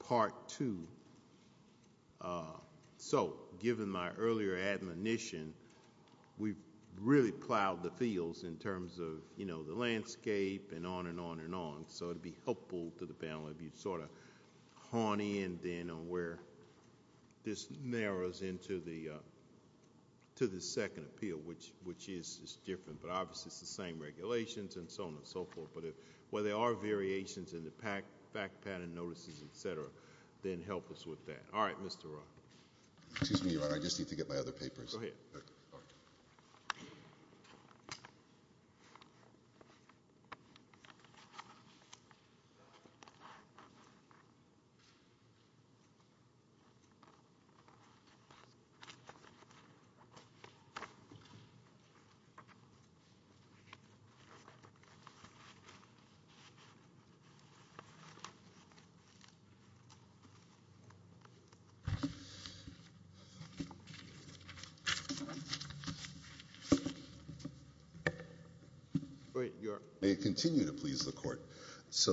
Part 2. So, given my earlier admonition, we've really plowed the fields in terms of, you know, the landscape and on and on and on. So it'd be helpful to the panel if you'd sort of hone in then on where this narrows into the second appeal, which is different. But obviously it's the same regulations and so on and so forth. But where there are variations and the fact pattern notices, et cetera, then help us with that. All right, Mr. Roth. May it continue to please the Court? So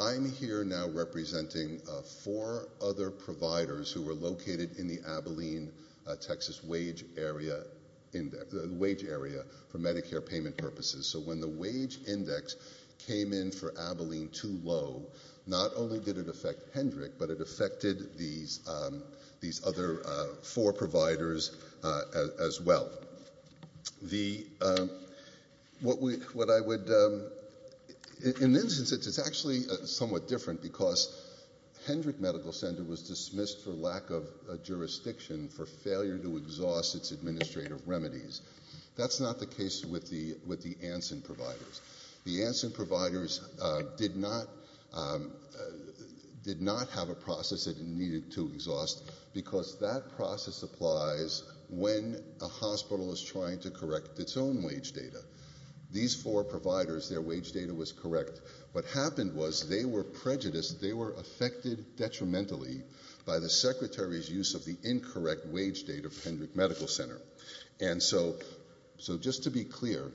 I'm here now representing four other providers who were located in the Abilene, Texas, wage area for Medicare payment purposes. So when the wage index came in for Abilene too low, not only did it affect Hendrick, but it affected these other four providers as well. In this instance, it's actually somewhat different because Hendrick Medical Center was dismissed for lack of jurisdiction for failure to exhaust its administrative remedies. That's not the case with the Anson providers. The Anson providers did not have a process that it needed to exhaust because that process applies when a hospital is trying to correct its own wage data. These four providers, their wage data was correct. What happened was they were prejudiced. They were affected detrimentally by the Secretary's use of the incorrect wage data for Hendrick Medical Center. So just to be clear,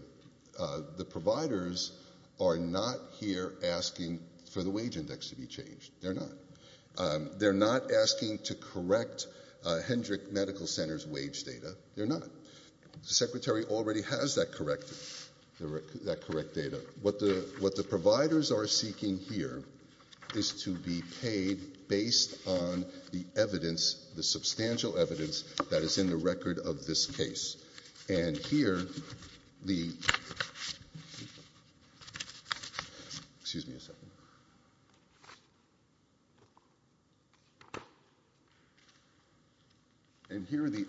the providers are not here asking for the wage index to be changed. They're not. They're not asking to correct Hendrick Medical Center's wage data. They're not. The Secretary already has that correct data. What the providers are seeking here is to be paid based on the evidence the substantial evidence that is in the record of this case. And here the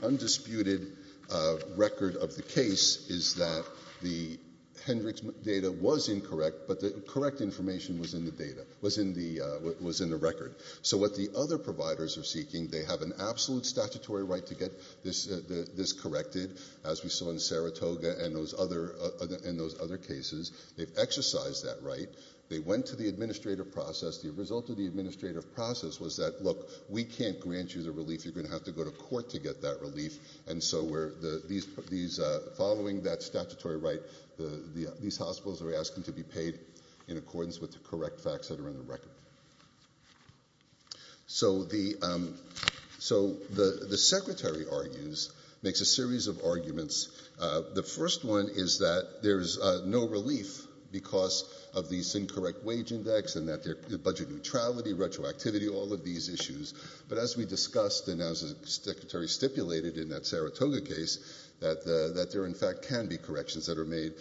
undisputed record of the case is that the Hendrick's data was incorrect, but the correct information was in the record. So what the other providers are seeking, they have an absolute statutory right to get this corrected, as we saw in Saratoga and those other cases. They've exercised that right. They went to the administrative process. The result of the administrative process was that, look, we can't grant you the relief. You're going to have to go to court to get that relief. And so following that statutory right, these hospitals are asking to be paid in accordance with the correct facts that are in the record. So the Secretary argues, makes a series of arguments. The first one is that there's no relief because of this incorrect wage index and budget neutrality, retroactivity, all of these issues. But as we discussed and as the Secretary stipulated in that Saratoga case, that there in fact can be corrections that are made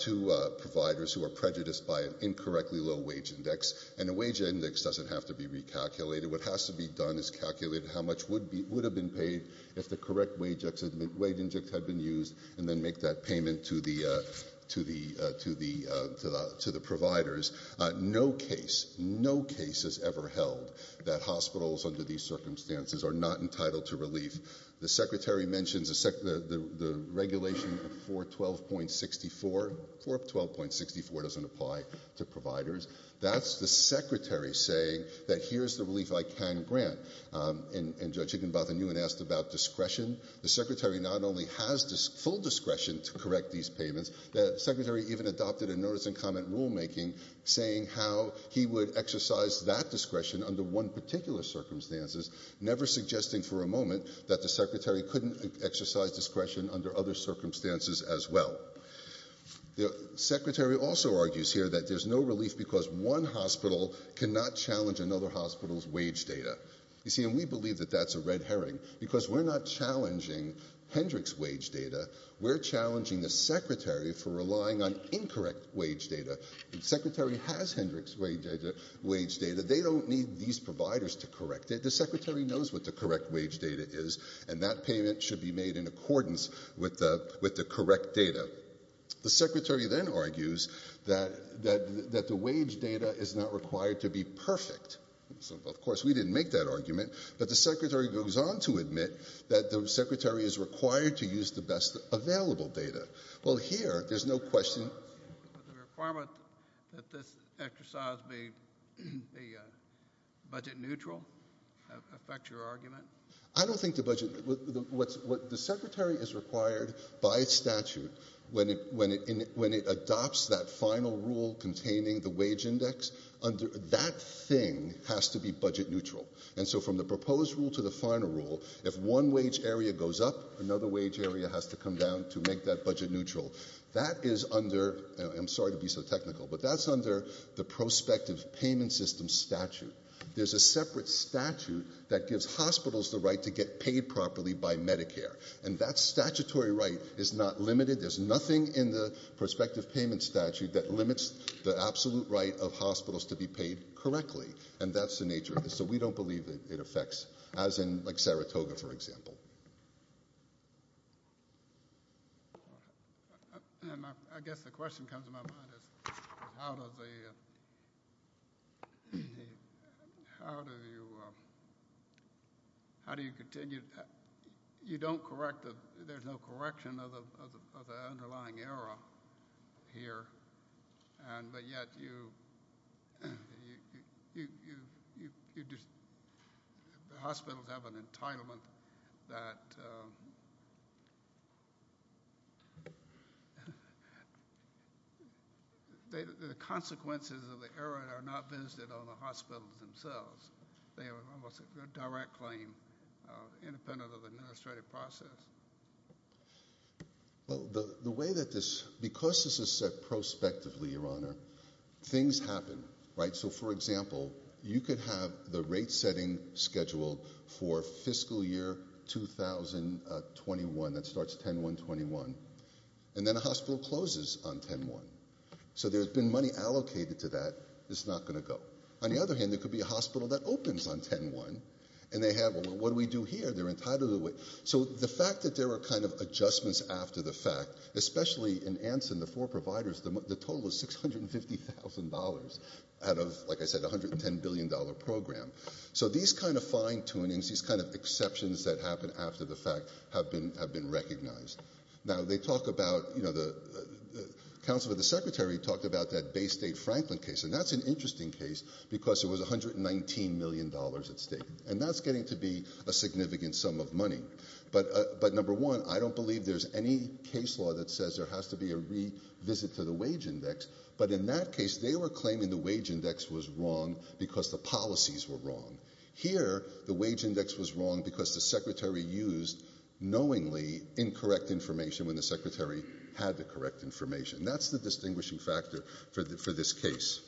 to providers who are prejudiced by an incorrectly low wage index. And a wage index doesn't have to be recalculated. What has to be done is calculate how much would have been paid if the correct wage index had been used and then make that payment to the providers. No case, no case has ever held that hospitals under these circumstances are not entitled to relief. The Secretary mentions the regulation 412.64. 412.64 doesn't apply to providers. That's the Secretary saying that here's the relief I can grant. And Judge Higginbotham, you had asked about discretion. The Secretary not only has full discretion to correct these payments, the Secretary even adopted a notice and comment rulemaking saying how he would exercise that discretion under one particular circumstances, never suggesting for a moment that the Secretary couldn't exercise discretion under other circumstances as well. The Secretary also argues here that there's no relief because one hospital cannot challenge another hospital's wage data. You see, and we believe that that's a red herring because we're not challenging Hendrick's wage data. We're challenging the Secretary for relying on incorrect wage data. The Secretary has Hendrick's wage data. They don't need these providers to correct it. The Secretary knows what the correct wage data is and that payment should be made in accordance with the correct data. The Secretary then argues that the wage data is not required to be perfect. Of course, we didn't make that argument, but the Secretary goes on to admit that the Secretary is required to use the best available data. Well, here there's no question. Does the requirement that this exercise be budget neutral affect your argument? I don't think the budget, what the Secretary is required by statute when it adopts that final rule containing the wage index, that thing has to be budget neutral. And so from the proposed rule to the final rule, if one wage area goes up, another wage area has to come down to make that budget neutral. That is under, and I'm sorry to be so technical, but that's under the prospective payment system statute. There's a separate statute that gives hospitals the right to get paid properly by Medicare. And that statutory right is not limited. There's nothing in the prospective payment statute that limits the absolute right of hospitals to be paid correctly. And that's the nature of it. So we don't believe that it affects, as in like Saratoga, for example. And I guess the question comes to my mind is how does the, how do you, how do you continue, you don't correct the, there's no correction of the underlying error here. And, but yet you, you, you, you, you, you just, the hospitals have an entitlement that, um, they, the consequences of the error are not visited on the hospitals themselves. They are almost a direct claim, uh, independent of the administrative process. Well, the, the way that this, because this is set prospectively, Your Honor, things happen, right? So for example, you could have the rate setting scheduled for fiscal year 2021 that starts 10-1-21 and then a hospital closes on 10-1. So there's been money allocated to that. It's not going to go. On the other hand, there could be a hospital that opens on 10-1 and they have, well, what do we do here? They're entitled to it. So the fact that there were kind of adjustments after the fact, especially in Anson, the four providers, the, the total is $650,000 out of, like I said, $110 billion program. So these kinds of fine tunings, these kinds of exceptions that happen after the fact have been, have been recognized. Now they talk about, you know, the, the counsel of the secretary talked about that Bay State Franklin case, and that's an interesting case because it was $119 million at stake, and that's getting to be a significant sum of money. But, but number one, I don't believe there's any case law that says there has to be a revisit to the wage index. But in that case, they were claiming the wage index was wrong because the policies were wrong. Here, the wage index was wrong because the secretary used knowingly incorrect information when the secretary had the correct information. That's the distinguishing factor for the, for this case.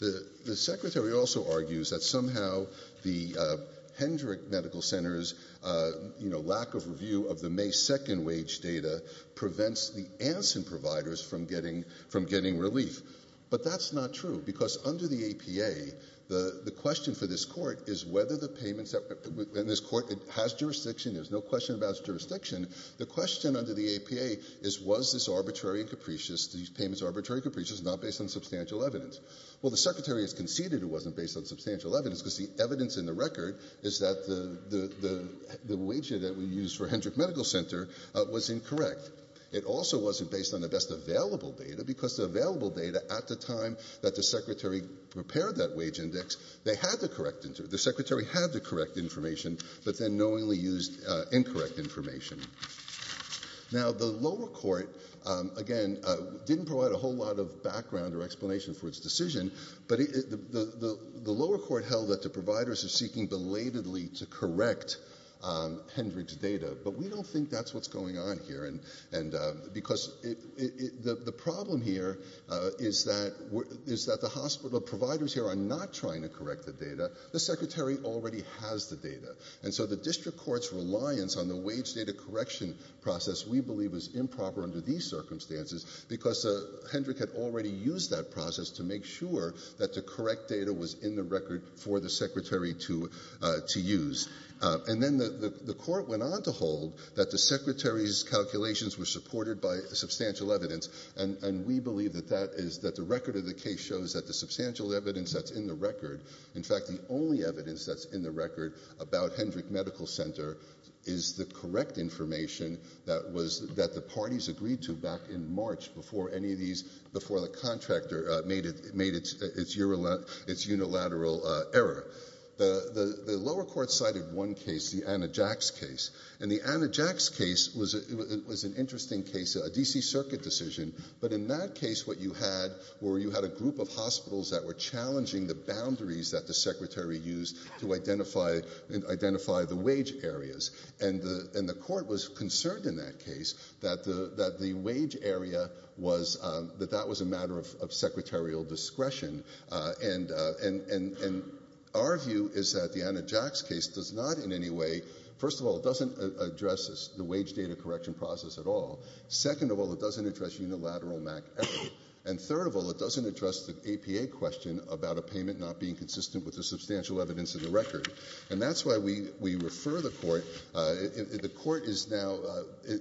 The, the secretary also argues that somehow the Hendrick Medical Center's, you know, lack of review of the May 2nd wage data prevents the Anson providers from getting, from getting relief. But that's not true because under the APA, the, the question for this court is whether the payments that, in this court, it has jurisdiction, there's no question about its jurisdiction. The question under the APA is, was this arbitrary and capricious, these payments arbitrary and capricious, not based on substantial evidence? Well, the secretary has conceded it wasn't based on substantial evidence because the evidence in the record is that the, the, the, the wage that we used for Hendrick Medical Center was incorrect. It also wasn't based on the best available data because the available data at the time that the secretary prepared that wage index, they had the correct, the secretary had the correct data. Again, didn't provide a whole lot of background or explanation for its decision, but the, the, the, the lower court held that the providers are seeking belatedly to correct Hendrick's data, but we don't think that's what's going on here. And, and because it, it, the, the problem here is that, is that the hospital providers here are not trying to correct the data. The secretary already has the data. And so the district court's reliance on the wage data correction process we believe is improper under these circumstances because Hendrick had already used that process to make sure that the correct data was in the record for the secretary to, to use. And then the, the, the court went on to hold that the secretary's calculations were supported by substantial evidence. And, and we believe that that is that the record of the case shows that the substantial evidence that's in the record, in fact, the only evidence that's in the record is the information that was, that the parties agreed to back in March before any of these, before the contractor made it, made its, its unilateral error. The, the, the lower court cited one case, the Anna Jack's case. And the Anna Jack's case was, it was an interesting case, a DC circuit decision. But in that case, what you had were you had a group of hospitals that were challenging the boundaries that the secretary used to identify and identify the wage areas. And the, and the court was concerned in that case that the, that the wage area was, that that was a matter of, of secretarial discretion. And, and, and, and our view is that the Anna Jack's case does not in any way, first of all, it doesn't address the wage data correction process at all. Second of all, it doesn't address unilateral MAC error. And third of all, it doesn't address the APA question about a payment not being consistent with the substantial evidence of the record. And that's why we, we refer the court. The court is now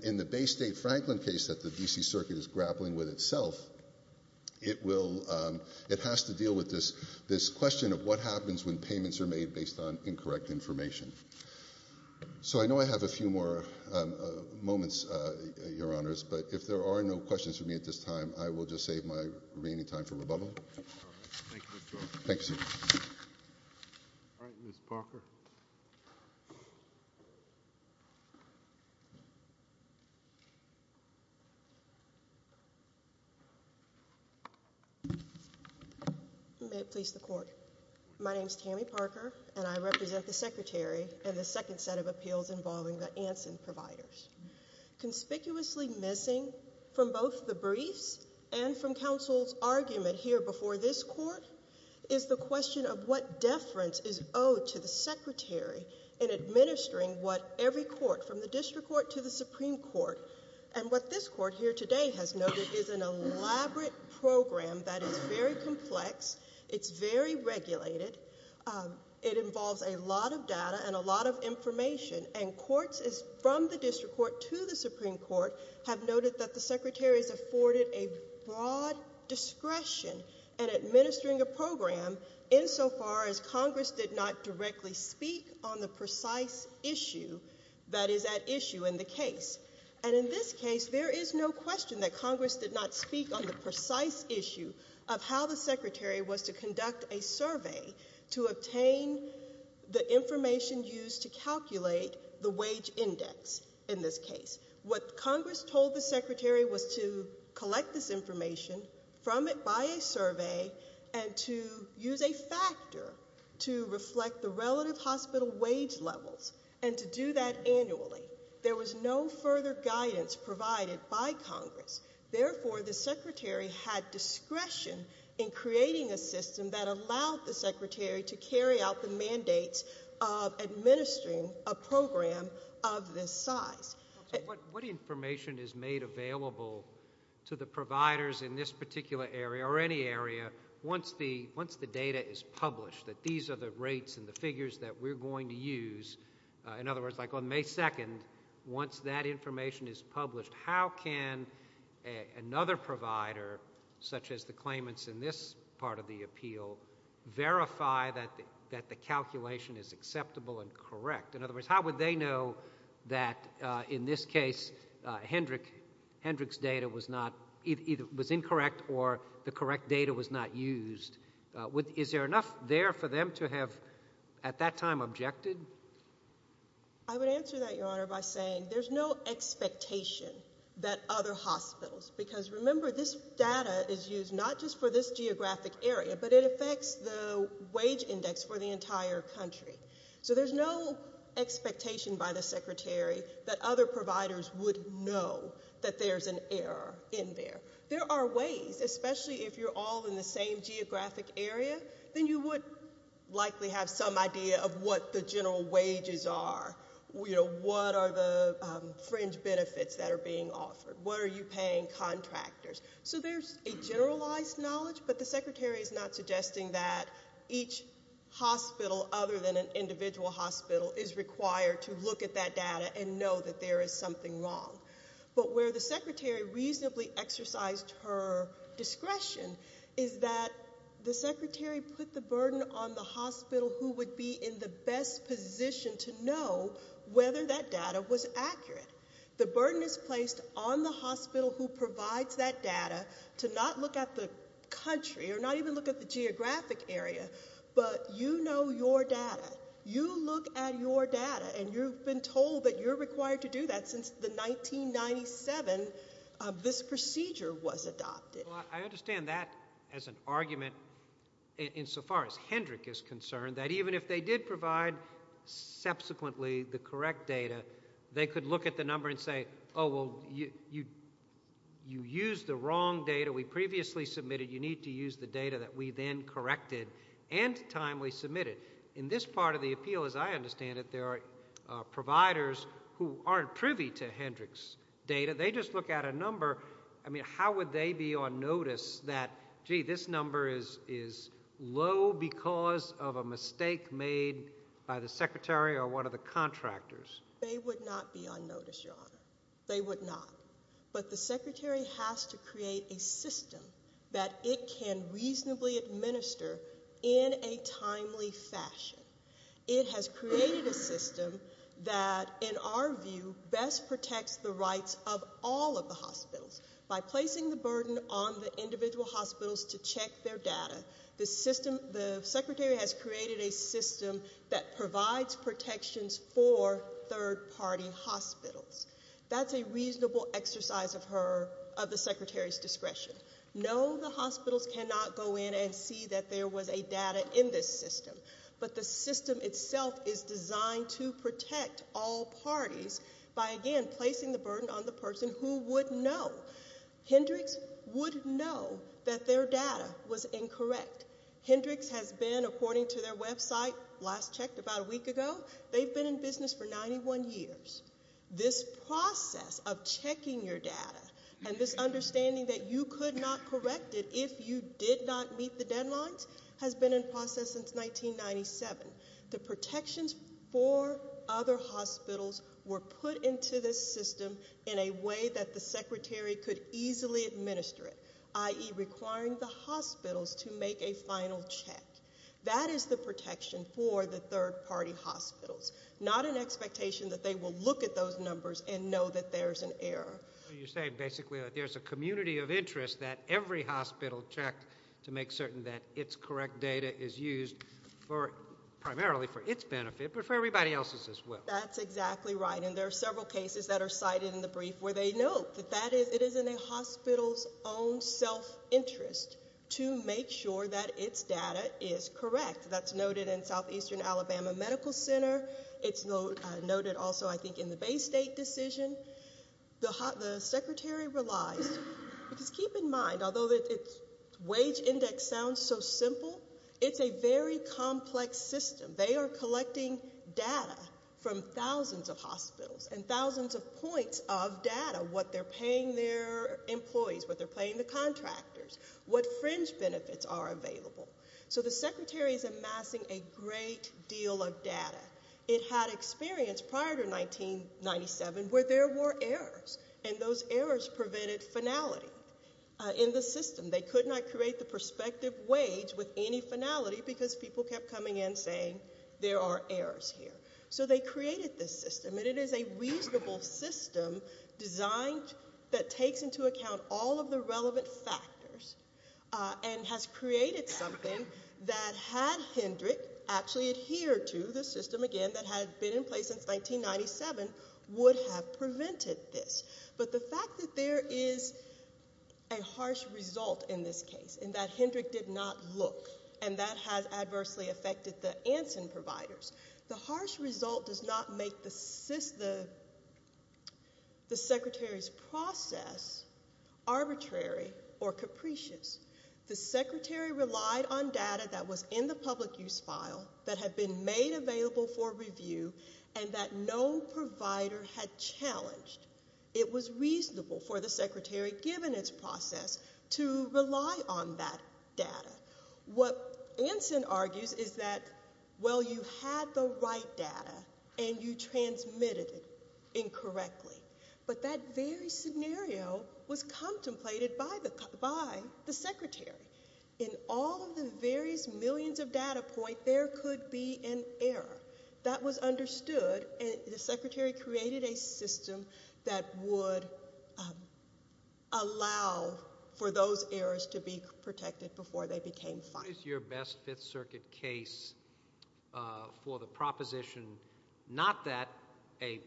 in the Bay State Franklin case that the DC circuit is grappling with itself. It will, it has to deal with this, this question of what happens when payments are made based on incorrect information. So I know I have a few more moments, your honors, but if there are no questions for me at this time, I will just go to Tammy Parker. May it please the court. My name is Tammy Parker and I represent the secretary and the second set of appeals involving the Anson providers. Conspicuously missing from both the briefs and from counsel's argument here before this court is the question of what deference is owed to the secretary in administering what every court from the district court to the Supreme Court. And what this court here today has noted is an elaborate program that is very complex. It's very regulated. It involves a lot of data and a lot of information and courts is from the district court to the Supreme Court have noted that the secretary has afforded a broad discretion and administering a program in so far as Congress did not directly speak on the precise issue that is at issue in the case. And in this case, there is no question that Congress did not speak on the precise issue of how the secretary was to conduct a survey to obtain the information used to calculate the wage index. In this case, what Congress told the secretary was to collect this survey and to use a factor to reflect the relative hospital wage levels and to do that annually. There was no further guidance provided by Congress. Therefore, the secretary had discretion in creating a system that allowed the secretary to carry out the mandates of administering a program of this size. What information is made available to the providers in this particular area or any area once the data is published, that these are the rates and the figures that we're going to use? In other words, like on May 2nd, once that information is published, how can another provider, such as the claimants in this part of the appeal, verify that the calculation is acceptable and correct? In other words, how would they know that in this case Hendrick's data was incorrect or the correct data was not used? Is there enough there for them to have, at that time, objected? I would answer that, Your Honor, by saying there's no expectation that other hospitals, because remember, this data is used not just for this geographic area, but it affects the wage index for the entire country. So there's no expectation by the in there. There are ways, especially if you're all in the same geographic area, then you would likely have some idea of what the general wages are. What are the fringe benefits that are being offered? What are you paying contractors? So there's a generalized knowledge, but the secretary is not suggesting that each hospital, other than an individual hospital, is required to look at that data and know that there is something wrong. But where the secretary reasonably exercised her discretion is that the secretary put the burden on the hospital who would be in the best position to know whether that data was accurate. The burden is placed on the hospital who provides that data to not look at the country or not even look at the geographic area, but you know your data. You look at your data and you've been told that you're required to do that since the 1997 this procedure was adopted. I understand that as an argument insofar as Hendrick is concerned, that even if they did provide subsequently the correct data, they could look at the number and say, oh, well, you used the wrong data we previously submitted. You need to use the data that we then corrected and timely submitted. In this part of the appeal, as I understand it, there are providers who aren't privy to Hendrick's data. They just look at a number. I mean, how would they be on notice that, gee, this number is low because of a mistake made by the secretary or one of the contractors? They would not be on notice, Your Honor. They would not. But the secretary has to create a system. It has created a system that in our view best protects the rights of all of the hospitals by placing the burden on the individual hospitals to check their data. The secretary has created a system that provides protections for third-party hospitals. That's a reasonable exercise of the secretary's discretion. No, the hospitals cannot go in and see that there was a data in this system. But the system itself is designed to protect all parties by, again, placing the burden on the person who would know. Hendrick's would know that their data was incorrect. Hendrick's has been, according to their website, last checked about a week ago, they've been in business for 91 years. This process of checking your data and this understanding that you could not correct it if you did not meet the deadlines has been in process since 1997. The protections for other hospitals were put into this system in a way that the secretary could easily administer it, i.e. requiring the hospitals to make a final check. That is the protection for the third-party hospitals, not an expectation that they will look at those numbers and know that there's an error. You're saying basically that there's a community of hospitals that have to make certain that it's correct data is used primarily for its benefit, but for everybody else's as well. That's exactly right. And there are several cases that are cited in the brief where they note that it is in a hospital's own self-interest to make sure that its data is correct. That's noted in Southeastern Alabama Medical Center. It's noted also, I think, in the Bay State decision. The secretary realized, because keep in mind, although its wage index sounds so simple, it's a very complex system. They are collecting data from thousands of hospitals and thousands of points of data, what they're paying their employees, what they're paying the contractors, what fringe benefits are available. So the secretary is amassing a great deal of data. It had experience prior to 1997 where there were errors, and those errors prevented finality in the system. They could not create the perspective wage with any finality because people kept coming in saying there are errors here. So they created this system, and it is a reasonable system designed that takes into account all of the relevant factors and has created something that had Hendrick actually adhere to, the system, again, that had been in place since 1997, would have prevented this. But the fact that there is a harsh result in this case, and that Hendrick did not look, and that has adversely affected the Anson providers, the harsh result does not make the secretary's process arbitrary or capricious. The secretary relied on data that was in the public use file that had been made available for it. It was reasonable for the secretary, given its process, to rely on that data. What Anson argues is that, well, you had the right data, and you transmitted it incorrectly. But that very scenario was contemplated by the secretary. In all of the various millions of data points, there could be an error. That was understood, and the secretary created a system that would allow for those errors to be protected before they became fine. What is your best Fifth Circuit case for the proposition not that a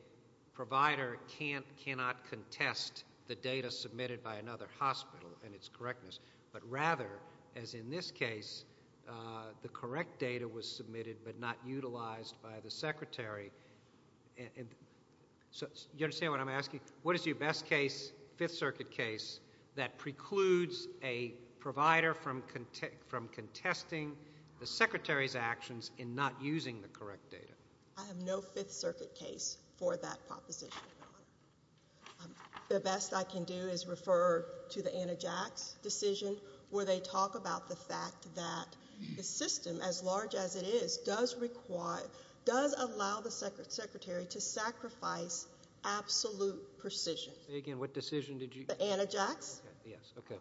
provider cannot contest the data submitted by another hospital and its correctness, but rather, as in this case, the correct data was submitted by the secretary? You understand what I'm asking? What is your best case, Fifth Circuit case, that precludes a provider from contesting the secretary's actions in not using the correct data? I have no Fifth Circuit case for that proposition. The best I can do is refer to the Anna Jacks decision, where they talk about the fact that the system, as large as it is, does allow the secretary to sacrifice absolute precision. Say again, what decision did you? The Anna Jacks. Yes, okay.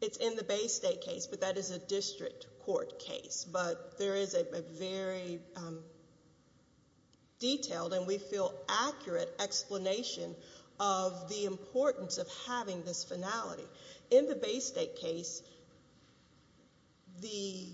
It's in the Bay State case, but that is a district court case. But there is a very detailed, and we feel In the Bay State case, the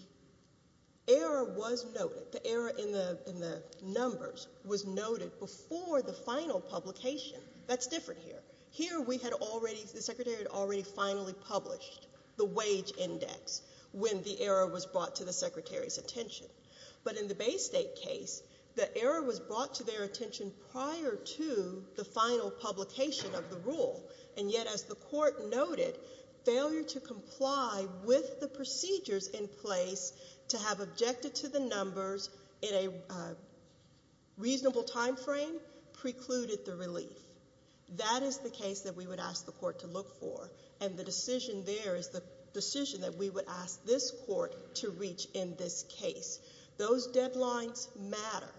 error was noted. The error in the numbers was noted before the final publication. That's different here. Here, we had already, the secretary had already finally published the wage index when the error was brought to the secretary's attention. But in the Bay State case, the error was brought to their attention prior to the final publication of the rule, and yet, as the court noted, failure to comply with the procedures in place to have objected to the numbers in a reasonable time frame precluded the relief. That is the case that we would ask the court to look for, and the decision there is the decision that we would ask this court to reach in this case. Those deadlines matter.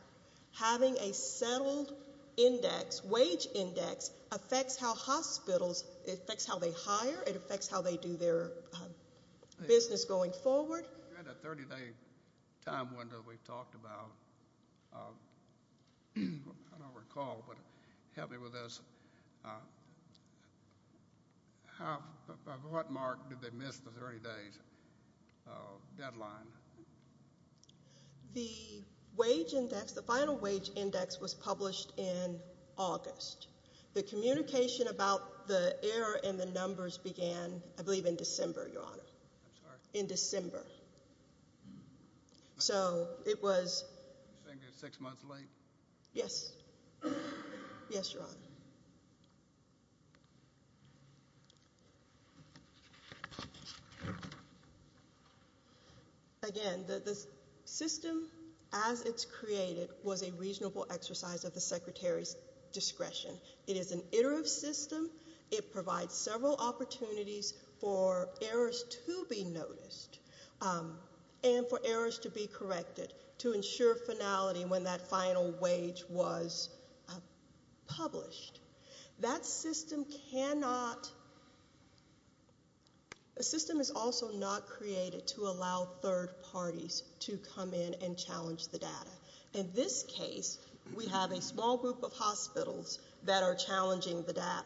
Having a settled index, wage index, affects how hospitals, it affects how they hire, it affects how they do their business going forward. You had a 30-day time window that we talked about. I don't recall, but help me with this. At what mark did they miss the 30 days deadline? The wage index, the final wage index, was published in August. The communication about the error in the numbers began, I believe, in December, Your Honor, in December. So it was six months late? Yes. Yes, Your Honor. Again, the system, as it's created, was a reasonable exercise of the secretary's discretion. It is an iterative system. It provides several opportunities for errors to be noticed. And for errors to be corrected, to ensure finality when that final wage was published. That system cannot, a system is also not created to allow third parties to come in and challenge the data. In this case, we have a small group of hospitals that are challenging the data.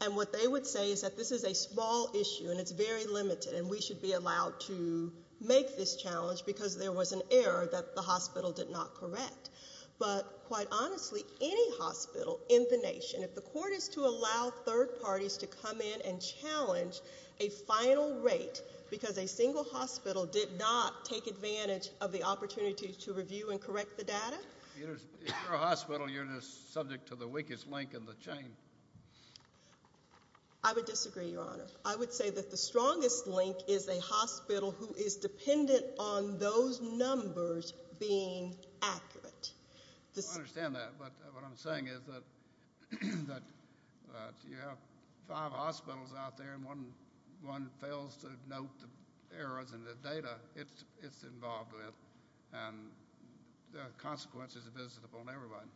And what they would say is that this is a small issue, and it's very limited, and we should be making this challenge because there was an error that the hospital did not correct. But, quite honestly, any hospital in the nation, if the court is to allow third parties to come in and challenge a final rate because a single hospital did not take advantage of the opportunity to review and correct the data? If you're a hospital, you're just subject to the weakest link in the chain. I would disagree, Your Honor. I would say that the strongest link is a hospital who is dependent on those numbers being accurate. I understand that, but what I'm saying is that you have five hospitals out there and one fails to note the errors in the data it's involved with, and the consequences of this is upon everybody.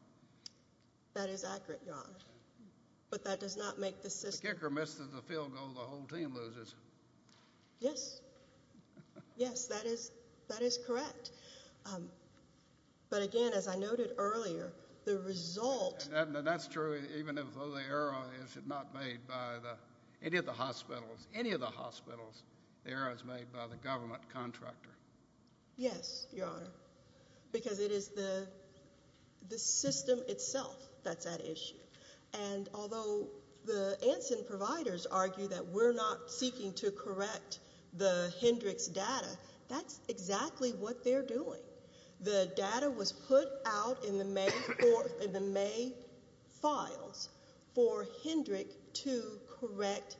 That is accurate, Your Honor. But that does not make the system The kicker misses the field goal, the whole team loses. Yes. Yes, that is correct. But, again, as I noted earlier, the result And that's true even though the error is not made by any of the hospitals. Any of the hospitals, the error is made by the government contractor. Yes, Your Honor, because it is the system itself that's at issue. And although the Anson providers argue that we're not seeking to correct the Hendricks data, that's exactly what they're doing. The data was put out in the May files for Hendrick to correct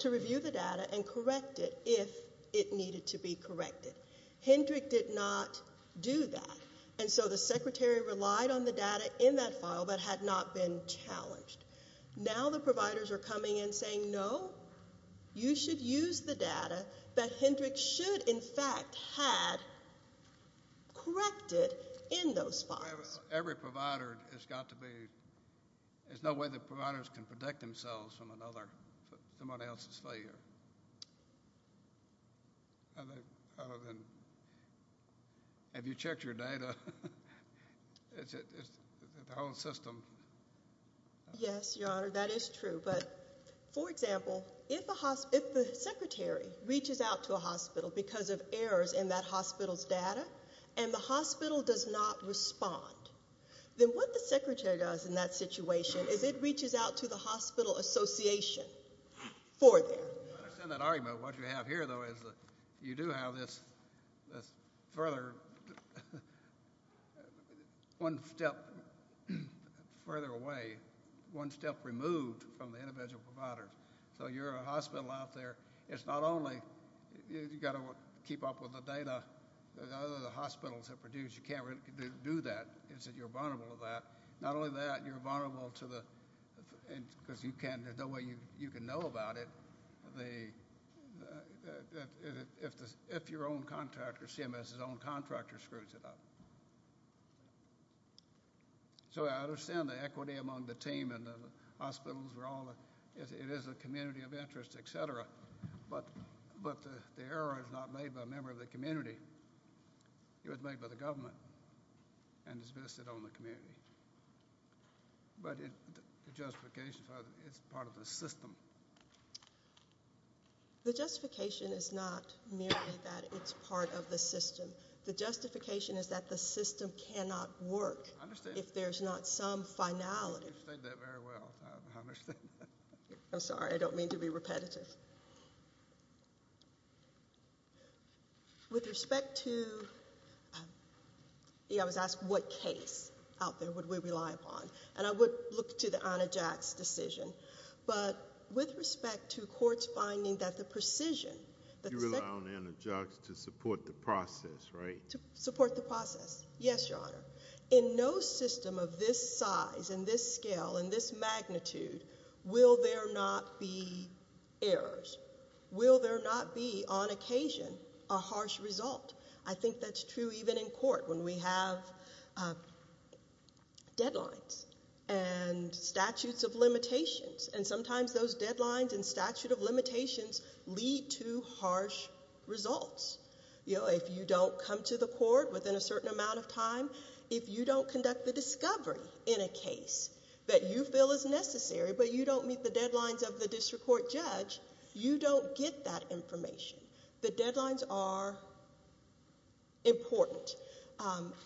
to review the data and correct it if it needed to be corrected. Hendrick did not do that. And so the secretary relied on the data in that file but had not been challenged. Now the providers are coming in saying, no, you should use the data that Hendrick should, in fact, had corrected in those files. Every provider has got to be, there's no way the providers can protect themselves from another, somebody else's failure. Have you checked your data? It's the whole system. Yes, Your Honor, that is true. But, for example, if the secretary reaches out to a hospital because of errors in that hospital's data, and the hospital does not respond, then what the secretary does in that situation is it reaches out to the hospital association for that. I understand that argument. What you have here, though, is that you do have this further, one step further away, one step removed from the individual providers. So you're a hospital out there, it's not only, you've got to keep up with the data that other hospitals have produced, you can't really do that. It's that you're vulnerable to that. Not only that, you're vulnerable to that, but the way you can know about it, if your own contractor, CMS's own contractor screws it up. So I understand the equity among the team and the hospitals, it is a community of interest, et cetera, but the error is not made by a member of the community, it was made by the government, and it's vested on the community. But the justification is that it's part of the system. The justification is not merely that it's part of the system. The justification is that the system cannot work if there's not some finality. I understand that very well. I understand that. I'm sorry, I don't mean to be repetitive. But with respect to, yeah, I was asked what case out there would we rely upon, and I would look to the Anajax decision, but with respect to courts finding that the precision. You rely on Anajax to support the process, right? To support the process. Yes, Your Honor. In no system of this size and this scale and this many errors will there not be on occasion a harsh result. I think that's true even in court when we have deadlines and statutes of limitations, and sometimes those deadlines and statute of limitations lead to harsh results. You know, if you don't come to the court within a certain amount of time, if you don't conduct the discovery in a case that you feel is necessary, but you don't meet the deadlines of the district court judge, you don't get that information. The deadlines are important,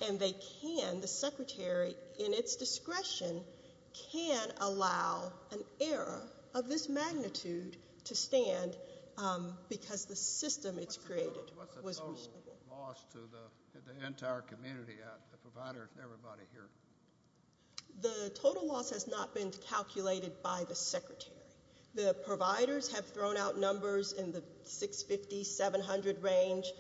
and they can, the Secretary, in its discretion, can allow an error of this magnitude to stand because the system it's created was reasonable. What's the total loss to the entire community, the providers, everybody here? The total loss has not been calculated by the Secretary. The providers have thrown out numbers in the 650, 700 range.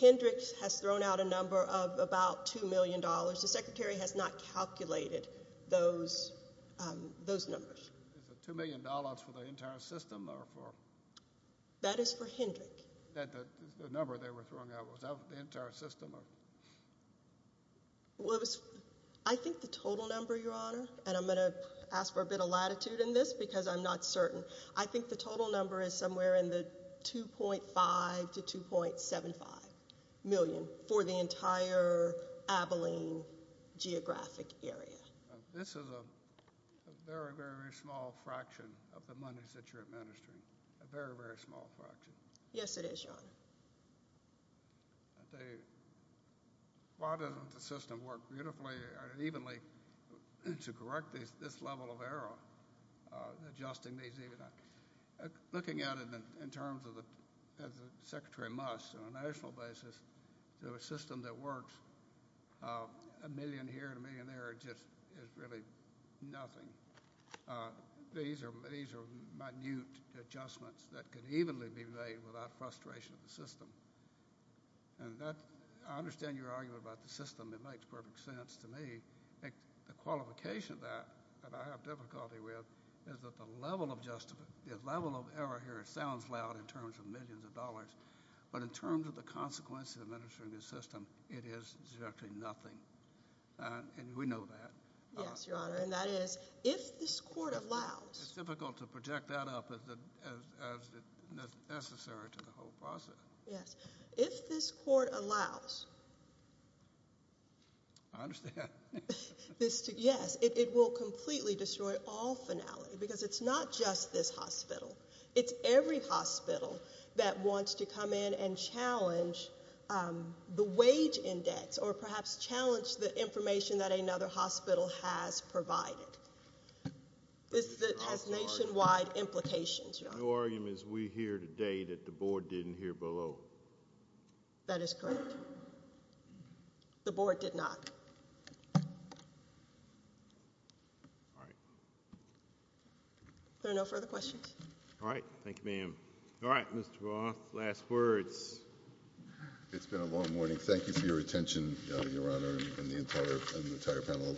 Hendricks has thrown out a number of about $2 million. The Secretary has not calculated those numbers. Is it $2 million for the entire system or for? That is for Hendricks. The number they were throwing out, was that the entire system? Well, it was, I think the total number, Your Honor, and I'm going to ask for a bit of latitude in this because I'm not certain. I think the total number is somewhere in the 2.5 to 2.75 million for the entire Abilene geographic area. This is a very, very small fraction of the monies that you're administering, a very, very small fraction. Yes, it is, Your Honor. I'll tell you, why doesn't the system work beautifully and evenly to correct this level of error, adjusting these even? Looking at it in terms of the, as the Secretary must, on a national basis, to a system that works a million here and a million there, it just is really nothing. These are minute adjustments that could evenly be made without frustration of the system. I understand your argument about the system. It makes perfect sense to me. The qualification of that that I have difficulty with is that the level of error here sounds loud in terms of millions of dollars, but in terms of the consequences of administering this system, it is directly nothing. We know that. Yes, Your Honor, and that is, if this Court allows— Yes, if this Court allows— I understand. Yes, it will completely destroy all finality, because it's not just this hospital. It's every hospital that wants to come in and challenge the wage index or perhaps challenge the information that another hospital has provided. This has nationwide implications. Your argument is we hear today that the Board didn't hear below. That is correct. The Board did not. All right. There are no further questions. All right. Thank you, ma'am. All right, Mr. Roth, last words. It's been a long morning. Thank you for your attention, Your Honor, and the entire panel.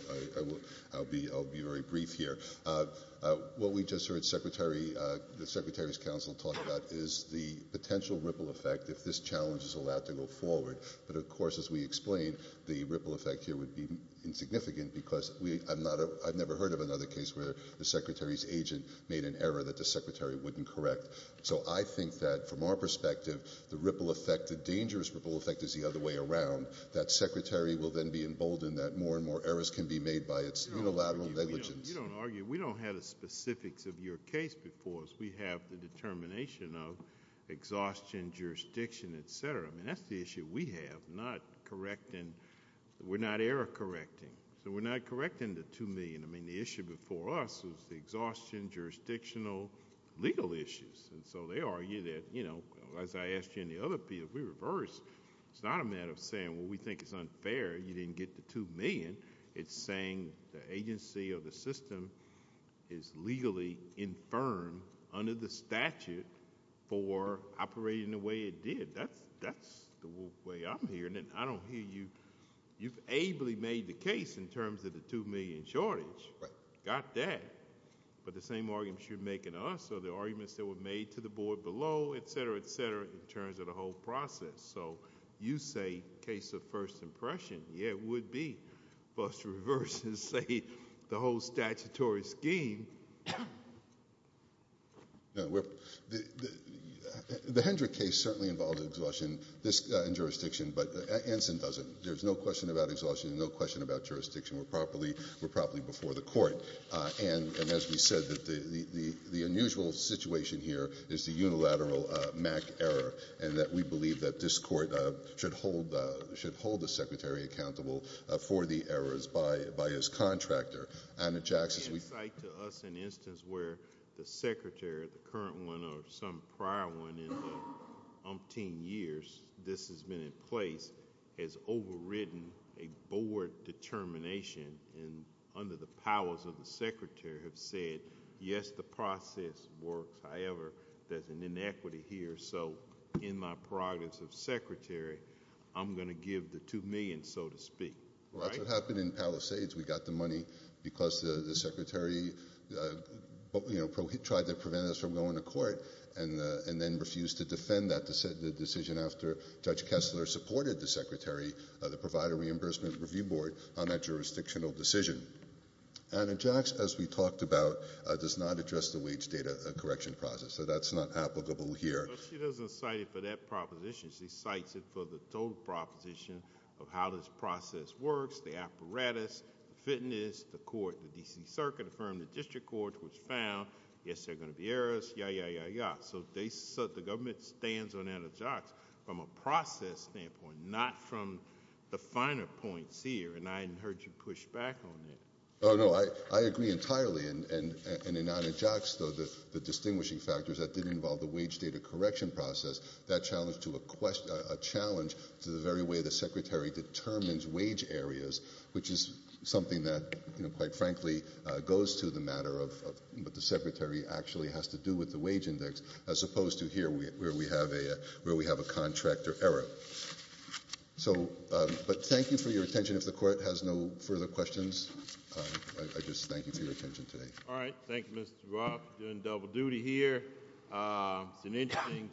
I'll be very brief here. What we just heard the Secretary's counsel talk about is the potential ripple effect if this challenge is allowed to go forward. But, of course, as we explained, the ripple effect here would be insignificant, because I've never heard of another case where the Secretary's agent made an error that the Secretary wouldn't correct. So I think that, from our perspective, the dangerous ripple effect is the other way around, that Secretary will then be emboldened that more and more errors can be made by its unilateral negligence. You don't argue. We don't have the specifics of your case before us. We have the determination of exhaustion, jurisdiction, etc. I mean, that's the issue we have, not correcting. We're not error correcting. So we're not correcting the 2 million. I mean, the issue before us was the exhaustion, jurisdictional, legal issues. And so they argue that, you know, as I asked you in the other piece, we reversed. It's not a matter of saying, well, we think it's unfair you didn't get the 2 million. It's saying the agency or the system is legally infirm under the statute for operating the way it did. That's the way I'm hearing it. I don't hear you. You've ably made the case in terms of the 2 million shortage. Got that. But the same arguments you're making to us, or the arguments that were made to the board below, etc., etc., in terms of the whole process. So you say case of first impression. Yeah, it would be. But to reverse and say the whole statutory scheme. No. The Hendrick case certainly involved exhaustion in jurisdiction, but Anson doesn't. There's no question about exhaustion, no question about jurisdiction. We're properly before the is the unilateral MAC error, and that we believe that this court should hold the secretary accountable for the errors by his contractor. Anna Jackson. We cite to us an instance where the secretary, the current one or some prior one in the umpteen years this has been in place, has overridden a board determination and under the powers of the there's an inequity here. So in my prerogatives of secretary, I'm going to give the 2 million, so to speak. That's what happened in Palisades. We got the money because the secretary tried to prevent us from going to court and then refused to defend that decision after Judge Kessler supported the secretary, the provider reimbursement review board, on that jurisdictional decision. Anna Jackson, as we talked about, does not address the wage correction process. So that's not applicable here. So she doesn't cite it for that proposition. She cites it for the total proposition of how this process works, the apparatus, the fitness, the court, the D.C. Circuit, the District Court, which found, yes, there are going to be errors, yeah, yeah, yeah, yeah. So they said the government stands on Anna Jackson from a process standpoint, not from the finer points here. And I hadn't heard you push back on that. Oh, no, I agree entirely. And in Anna Jackson, the distinguishing factors that did involve the wage data correction process, that challenged to a challenge to the very way the secretary determines wage areas, which is something that, quite frankly, goes to the matter of what the secretary actually has to do with the wage index, as opposed to here where we have a contractor error. So, but thank you for your attention. If the Court has no further questions, I just thank you for your attention today. All right. Thank you, Mr. Roth. You're doing double duty here. It's an interesting